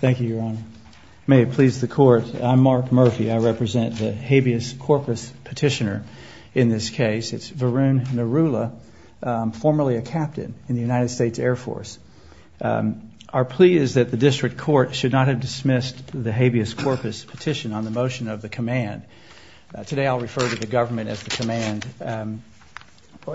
Thank you, Your Honor. May it please the Court, I'm Mark Murphy. I represent the habeas corpus petitioner in this case. It's Varun Narula, formerly a captain in the United States Air Force. Our plea is that the district court should not have dismissed the habeas corpus petition on the motion of the command. Today I'll refer to the government as the command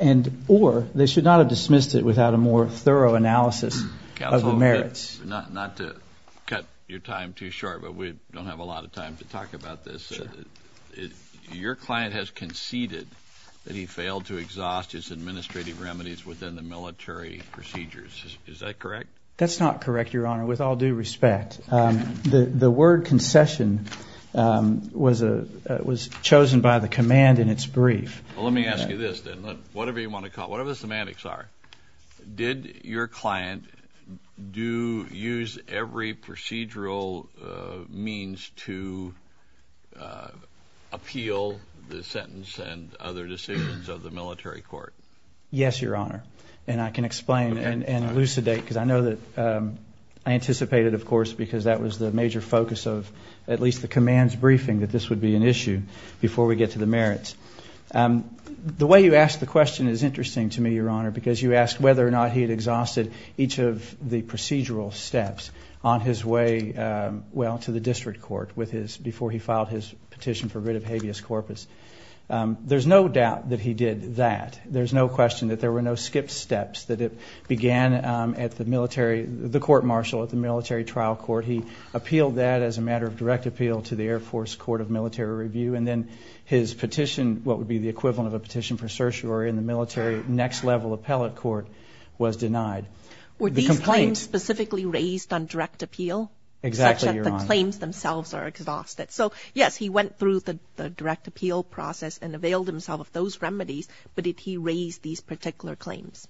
and or they should not have dismissed it without a more thorough analysis of the merits. Counsel, not to cut your time too short, but we don't have a lot of time to talk about this. Your client has conceded that he failed to exhaust his administrative remedies within the military procedures. Is that correct? That's not correct, Your Honor, with all due respect. The word concession was chosen by the command in its brief. Well, let me ask you this then. Whatever you want to call it, whatever the semantics are, did your client use every procedural means to appeal the sentence and other decisions of the military court? Yes, Your Honor, and I can explain and elucidate because I know that I anticipated, of course, because that was the major focus of at least the command's The way you ask the question is interesting to me, Your Honor, because you asked whether or not he had exhausted each of the procedural steps on his way, well, to the district court before he filed his petition for rid of habeas corpus. There's no doubt that he did that. There's no question that there were no skipped steps, that it began at the military, the court-martial at the military trial court. He appealed that as a matter of direct appeal to the Air His petition, what would be the equivalent of a petition for certiorari in the military next level appellate court, was denied. Were these claims specifically raised on direct appeal? Exactly, Your Honor. Such that the claims themselves are exhausted. So, yes, he went through the direct appeal process and availed himself of those remedies, but did he raise these particular claims?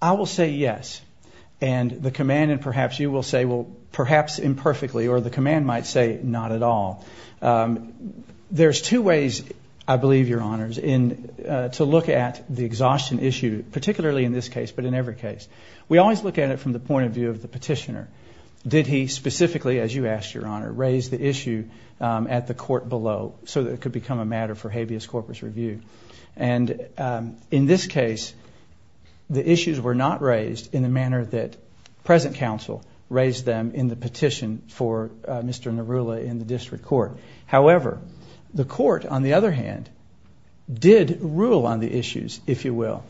I will say yes, and the command, and perhaps you will say, well, perhaps imperfectly, or the command might say not at all. There's two ways, I believe, Your Honors, to look at the exhaustion issue, particularly in this case, but in every case. We always look at it from the point of view of the petitioner. Did he specifically, as you asked, Your Honor, raise the issue at the court below so that it could become a matter for habeas corpus review? And in this case, the issues were not raised in the manner that present counsel raised them in the petition for Mr. Nerula in the district court. However, the court, on the other hand, did rule on the issues, if you will.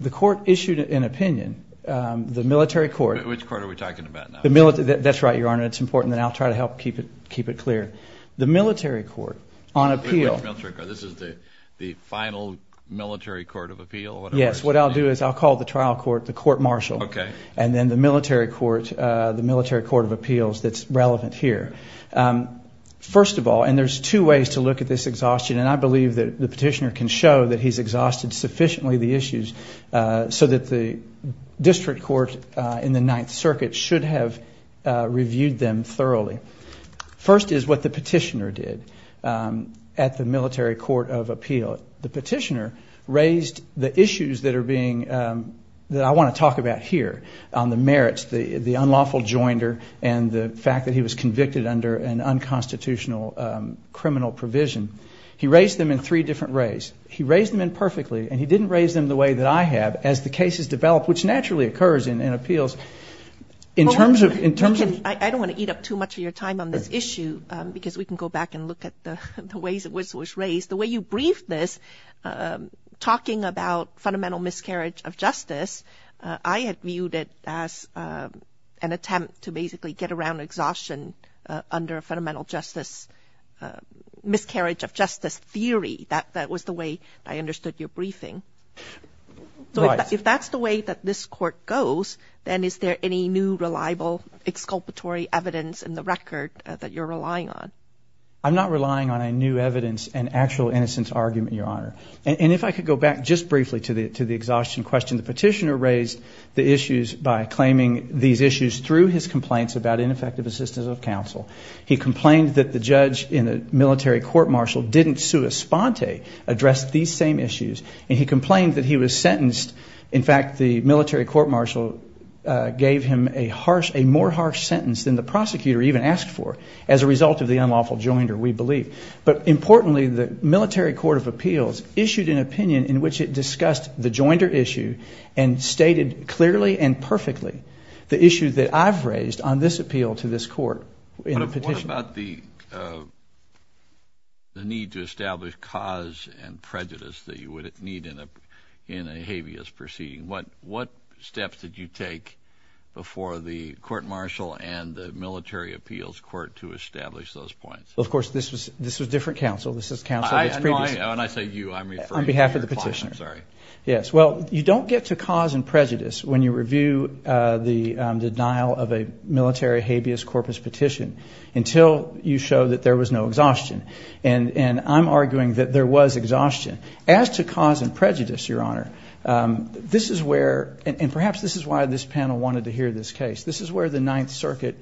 The court issued an opinion. The military court... Which court are we talking about now? That's right, Your Honor. It's important that I'll try to help keep it clear. The military court, on appeal... Which military court? This is the final military court of appeal? Yes, what I'll do is I'll call the trial court the court-martial. Okay. And then the military court, the military court of appeals that's relevant here. First of all, and there's two ways to look at this exhaustion, and I believe that the petitioner can show that he's exhausted sufficiently the issues so that the district court in the Ninth Circuit should have reviewed them thoroughly. First is what the petitioner did at the military court of appeal. The petitioner raised the issues that are being, that I want to talk about here on the merits, the unlawful joinder and the fact that he was convicted under an unconstitutional criminal provision. He raised them in three different ways. He raised them imperfectly and he didn't raise them the way that I have as the cases develop, which naturally occurs in appeals. In terms of... I don't want to eat up too much of your time on this issue because we can go back and look at the ways it was raised. The way you briefed this, talking about fundamental miscarriage of justice, I had viewed it as an attempt to basically get around exhaustion under a fundamental justice, miscarriage of justice theory. That was the way I understood your briefing. Right. So if that's the way that this court goes, then is there any new reliable exculpatory evidence in the record that you're relying on? I'm not relying on a new evidence and actual innocence argument, Your Honor. And if I could go back just briefly to the exhaustion question, the petitioner raised the issues by claiming these issues through his complaints about ineffective assistance of counsel. He complained that the judge in the military court-martial didn't sui sponte, address these same issues, and he complained that he was sentenced. In fact, the military court-martial gave him a harsh, a more harsh sentence than the prosecutor even asked for as a result of the unlawful joinder, we believe. But importantly, the military court of appeals issued an opinion in which it discussed the joinder issue and stated clearly and perfectly the issue that I've raised on this appeal to this court in a petition. What about the need to establish cause and prejudice that you would need in a habeas proceeding? What steps did you take before the court-martial and the military appeals court to establish those points? Well, of course, this was different counsel. This is counsel that's previous. When I say you, I'm referring to your client. On behalf of the petitioner. I'm sorry. Yes. Well, you don't get to cause and prejudice when you review the denial of a military habeas corpus petition until you show that there was no exhaustion. And I'm arguing that there was exhaustion. As to cause and prejudice, Your Honor, this is where, and perhaps this is why this panel wanted to hear this case. This is where the Ninth Circuit,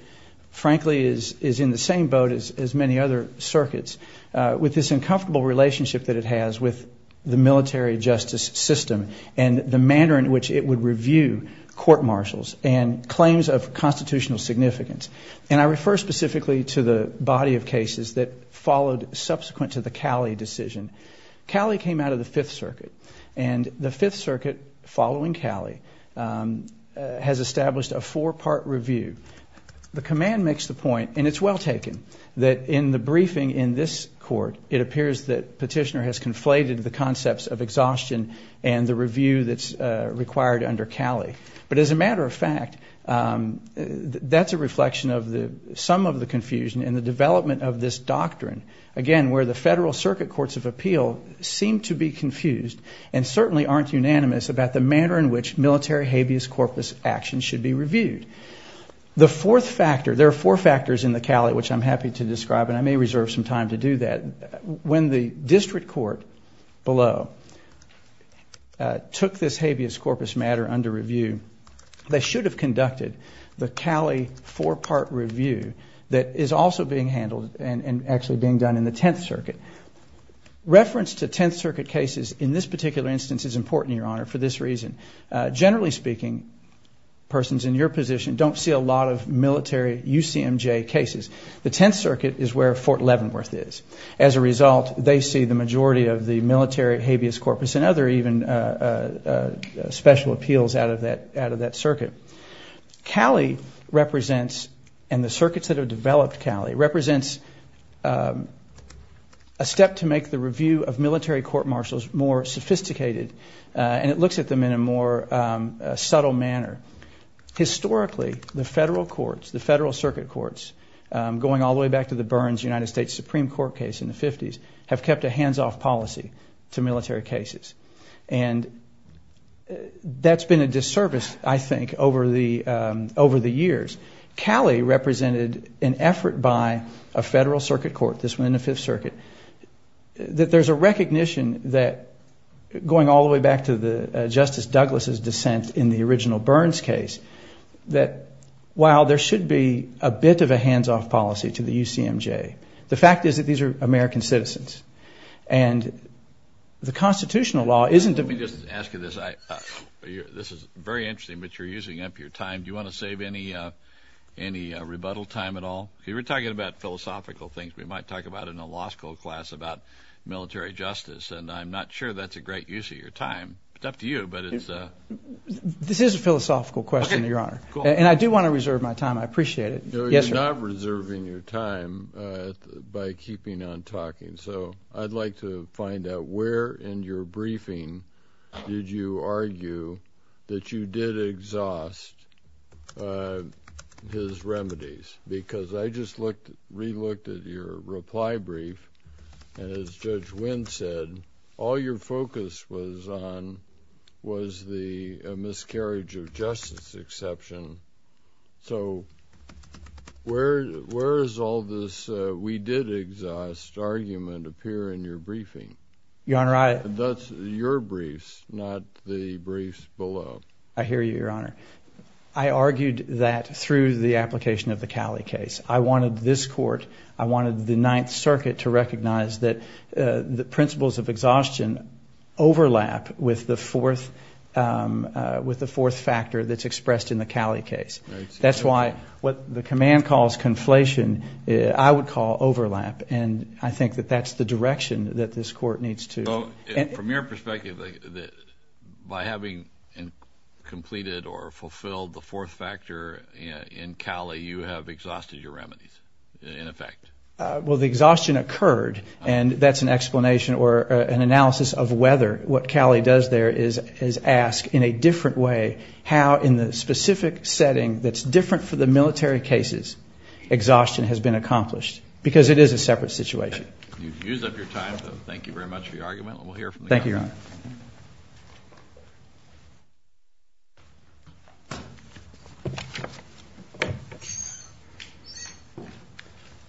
frankly, is in the same boat as many other circuits with this uncomfortable relationship that it has with the military justice system and the manner in which it would review court-martials and claims of constitutional significance. And I refer specifically to the body of cases that followed subsequent to the Cali decision. Cali came out of the Fifth Circuit. And the Fifth Circuit, following Cali, has established a four-part review. The command makes the point, and it's well taken, that in the briefing in this court, it appears that petitioner has conflated the concepts of exhaustion and the review that's required under Cali. But as a matter of fact, that's a reflection of some of the confusion in the development of this doctrine. Again, where the Federal Circuit Courts of Appeal seem to be confused and certainly aren't unanimous about the manner in which military habeas corpus actions should be reviewed. The fourth factor, there are four factors in the Cali, which I'm happy to describe, and I may reserve some time to do that. When the district court below took this habeas corpus matter under review, they should have conducted the Cali four-part review that is also being handled and actually being done in the Tenth Circuit. Reference to Tenth Circuit cases in this particular instance is important, Your Honor, for this reason. Generally speaking, persons in your position don't see a lot of military UCMJ cases. The Tenth Circuit is where Fort Leavenworth is. As a result, they see the majority of the military habeas corpus and other even special appeals out of that circuit. Cali represents, and the circuits that have developed Cali, represents a step to make the review of military court-martials more sophisticated and it looks at them in a more subtle manner. Historically, the federal courts, the federal circuit courts, going all the way back to the Burns United States Supreme Court case in the 50s, have kept a hands-off policy to military cases. And that's been a disservice, I think, over the years. Cali represented an effort by a federal circuit court, this one in the Fifth Circuit, that there's a recognition that going all the way back to the Justice Douglas' dissent in the original Burns case, that while there should be a bit of a hands-off policy to the UCMJ, the fact is that these are American citizens. And the constitutional law isn't... Let me just ask you this. This is very interesting, but you're using up your time. Do you want to save any rebuttal time at all? You were talking about philosophical things. We might talk about it in a law school class about military justice, and I'm not sure that's a great use of your time. It's up to you, but it's... This is a philosophical question, Your Honor. And I do want to reserve my time. I appreciate it. Yes, sir. You're not reserving your time by keeping on talking. So I'd like to find out where in your briefing did you argue that you did exhaust his remedies? Because I just re-looked at your reply brief, and as Judge Wynn said, all your focus was on was the miscarriage of justice exception. So where does all this we did exhaust argument appear in your briefing? Your Honor, I... That's your briefs, not the briefs below. I hear you, Your Honor. I argued that through the application of the Cali case. I wanted this court, I wanted the Ninth Circuit to recognize that the overlap with the fourth factor that's expressed in the Cali case. That's why what the command calls conflation, I would call overlap, and I think that that's the direction that this court needs to... So from your perspective, by having completed or fulfilled the fourth factor in Cali, you have exhausted your remedies, in effect? Well, the exhaustion occurred, and that's an explanation or an analysis of whether what Cali does there is ask in a different way how in the specific setting that's different for the military cases, exhaustion has been accomplished. Because it is a separate situation. You've used up your time, so thank you very much for your argument, Thank you, Your Honor. Thank you.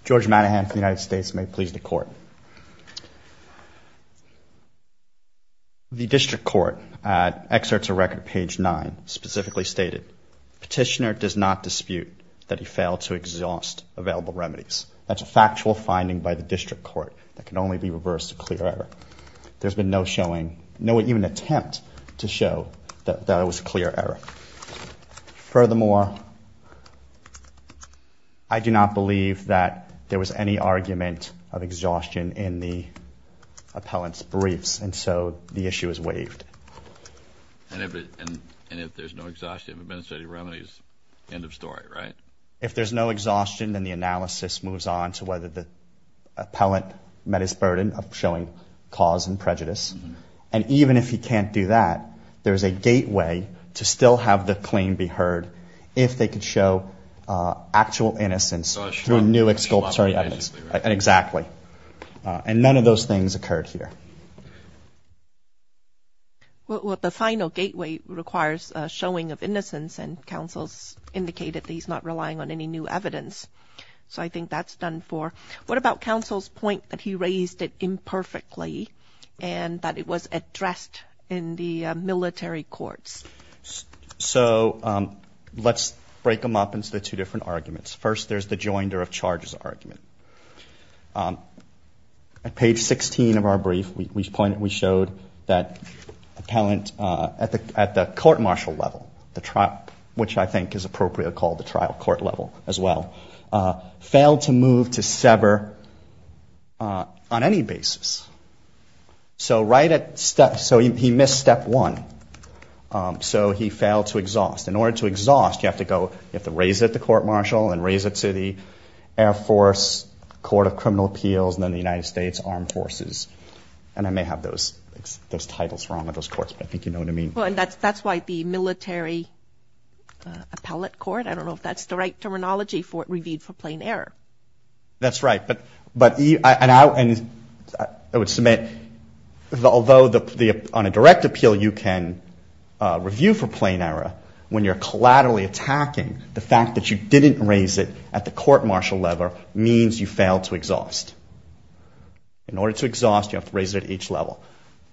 George Manahan from the United States, may it please the Court. The District Court, at Excerpts of Record, page 9, specifically stated, Petitioner does not dispute that he failed to exhaust available remedies. That's a factual finding by the District Court that can only be reversed to clear error. There's been no showing, no even attempt to show that it was a clear error. Furthermore, I do not believe that there was any argument of exhaustion in the appellant's briefs, and so the issue is waived. And if there's no exhaustion of administrative remedies, end of story, right? If there's no exhaustion, then the analysis moves on to whether the appellant met his burden of showing cause and prejudice. And even if he can't do that, there's a gateway to still have the claim be heard if they could show actual innocence through new exculpatory evidence. Exactly. And none of those things occurred here. Well, the final gateway requires showing of innocence, and counsel's indicated that he's not relying on any new evidence. So I think that's done for. What about counsel's point that he raised it imperfectly and that it was addressed in the military courts? So let's break them up into the two different arguments. First, there's the joinder of charges argument. At page 16 of our brief, we showed that appellant at the court martial level, which I think is appropriately called the trial court level as well, failed to move to sever on any basis. So he missed step one. So he failed to exhaust. In order to exhaust, you have to raise it at the court martial and raise it to the Air Force, Court of Criminal Appeals, and then the United States Armed Forces. And I may have those titles wrong with those courts, but I think you know what I mean. That's why the military appellate court, I don't know if that's the right terminology for it, reviewed for plain error. That's right. And I would submit, although on a direct appeal you can review for plain error, when you're collaterally attacking, the fact that you didn't raise it at the court martial level means you failed to exhaust. In order to exhaust, you have to raise it at each level.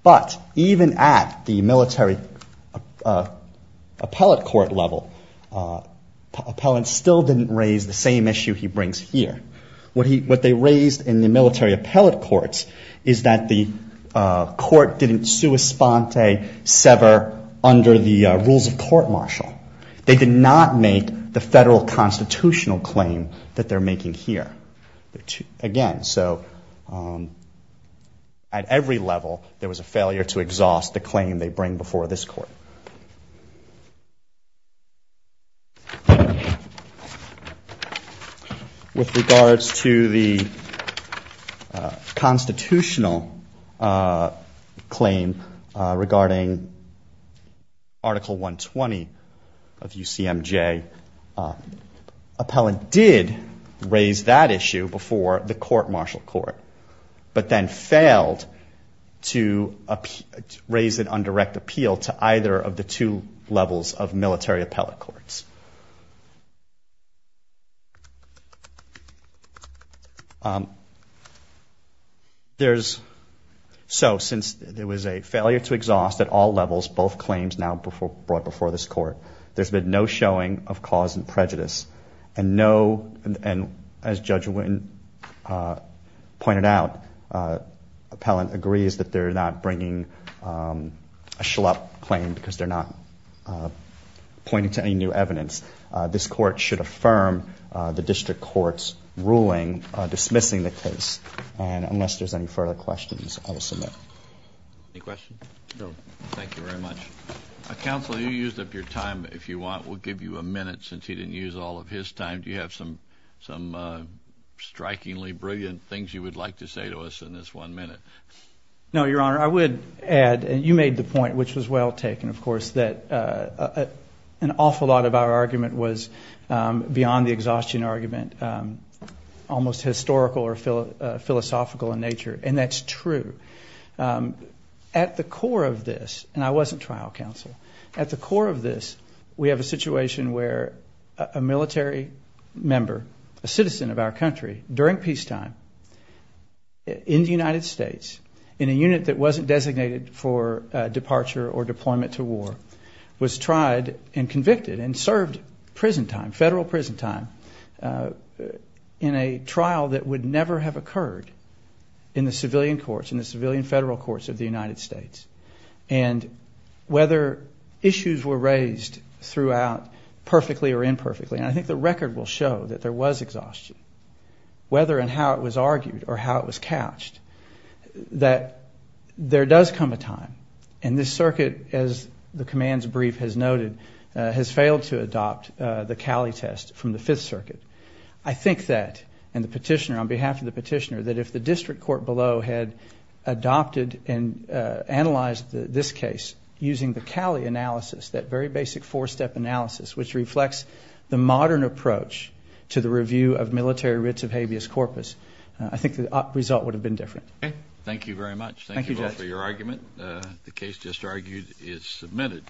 But even at the military appellate court level, appellant still didn't raise the same issue he brings here. What they raised in the military appellate courts is that the court didn't sui sponte, sever under the rules of court martial. They did not make the federal constitutional claim that they're making here. Again, so at every level there was a failure to exhaust the claim they bring before this court. With regards to the constitutional claim regarding Article 120 of UCMJ, appellant did raise that issue before the court martial court, but then failed to raise an undirect appeal to either of the two levels of military appellate courts. So since there was a failure to exhaust at all levels, both claims now brought before this court. And as Judge Witten pointed out, appellant agrees that they're not bringing a schlup claim because they're not pointing to any new evidence. This court should affirm the district court's ruling dismissing the case. And unless there's any further questions, I will submit. Any questions? Thank you very much. Counsel, you used up your time, if you want. We'll give you a minute since he didn't use all of his time. Do you have some strikingly brilliant things you would like to say to us in this one minute? No, Your Honor, I would add, and you made the point which was well taken, of course, that an awful lot of our argument was beyond the exhaustion argument, almost historical or philosophical in nature. And that's true. At the core of this, and I wasn't trial counsel, at the core of this, we have a situation where a military member, a citizen of our country, during peacetime in the United States, in a unit that wasn't designated for departure or deployment to war, was tried and convicted and served prison time, federal prison time, in a trial that would never have occurred in the civilian courts, in the civilian federal courts of the United States. And whether issues were raised throughout perfectly or imperfectly, and I think the record will show that there were and there was exhaustion, whether and how it was argued or how it was couched, that there does come a time, and this circuit, as the command's brief has noted, has failed to adopt the Cali test from the Fifth Circuit. I think that, and the petitioner, on behalf of the petitioner, that if the district court below had adopted and analyzed this case using the Cali analysis, that very basic four-step analysis which reflects the modern approach to the review of the military writs of habeas corpus, I think the result would have been different. Thank you very much. Thank you both for your argument. The case just argued is submitted.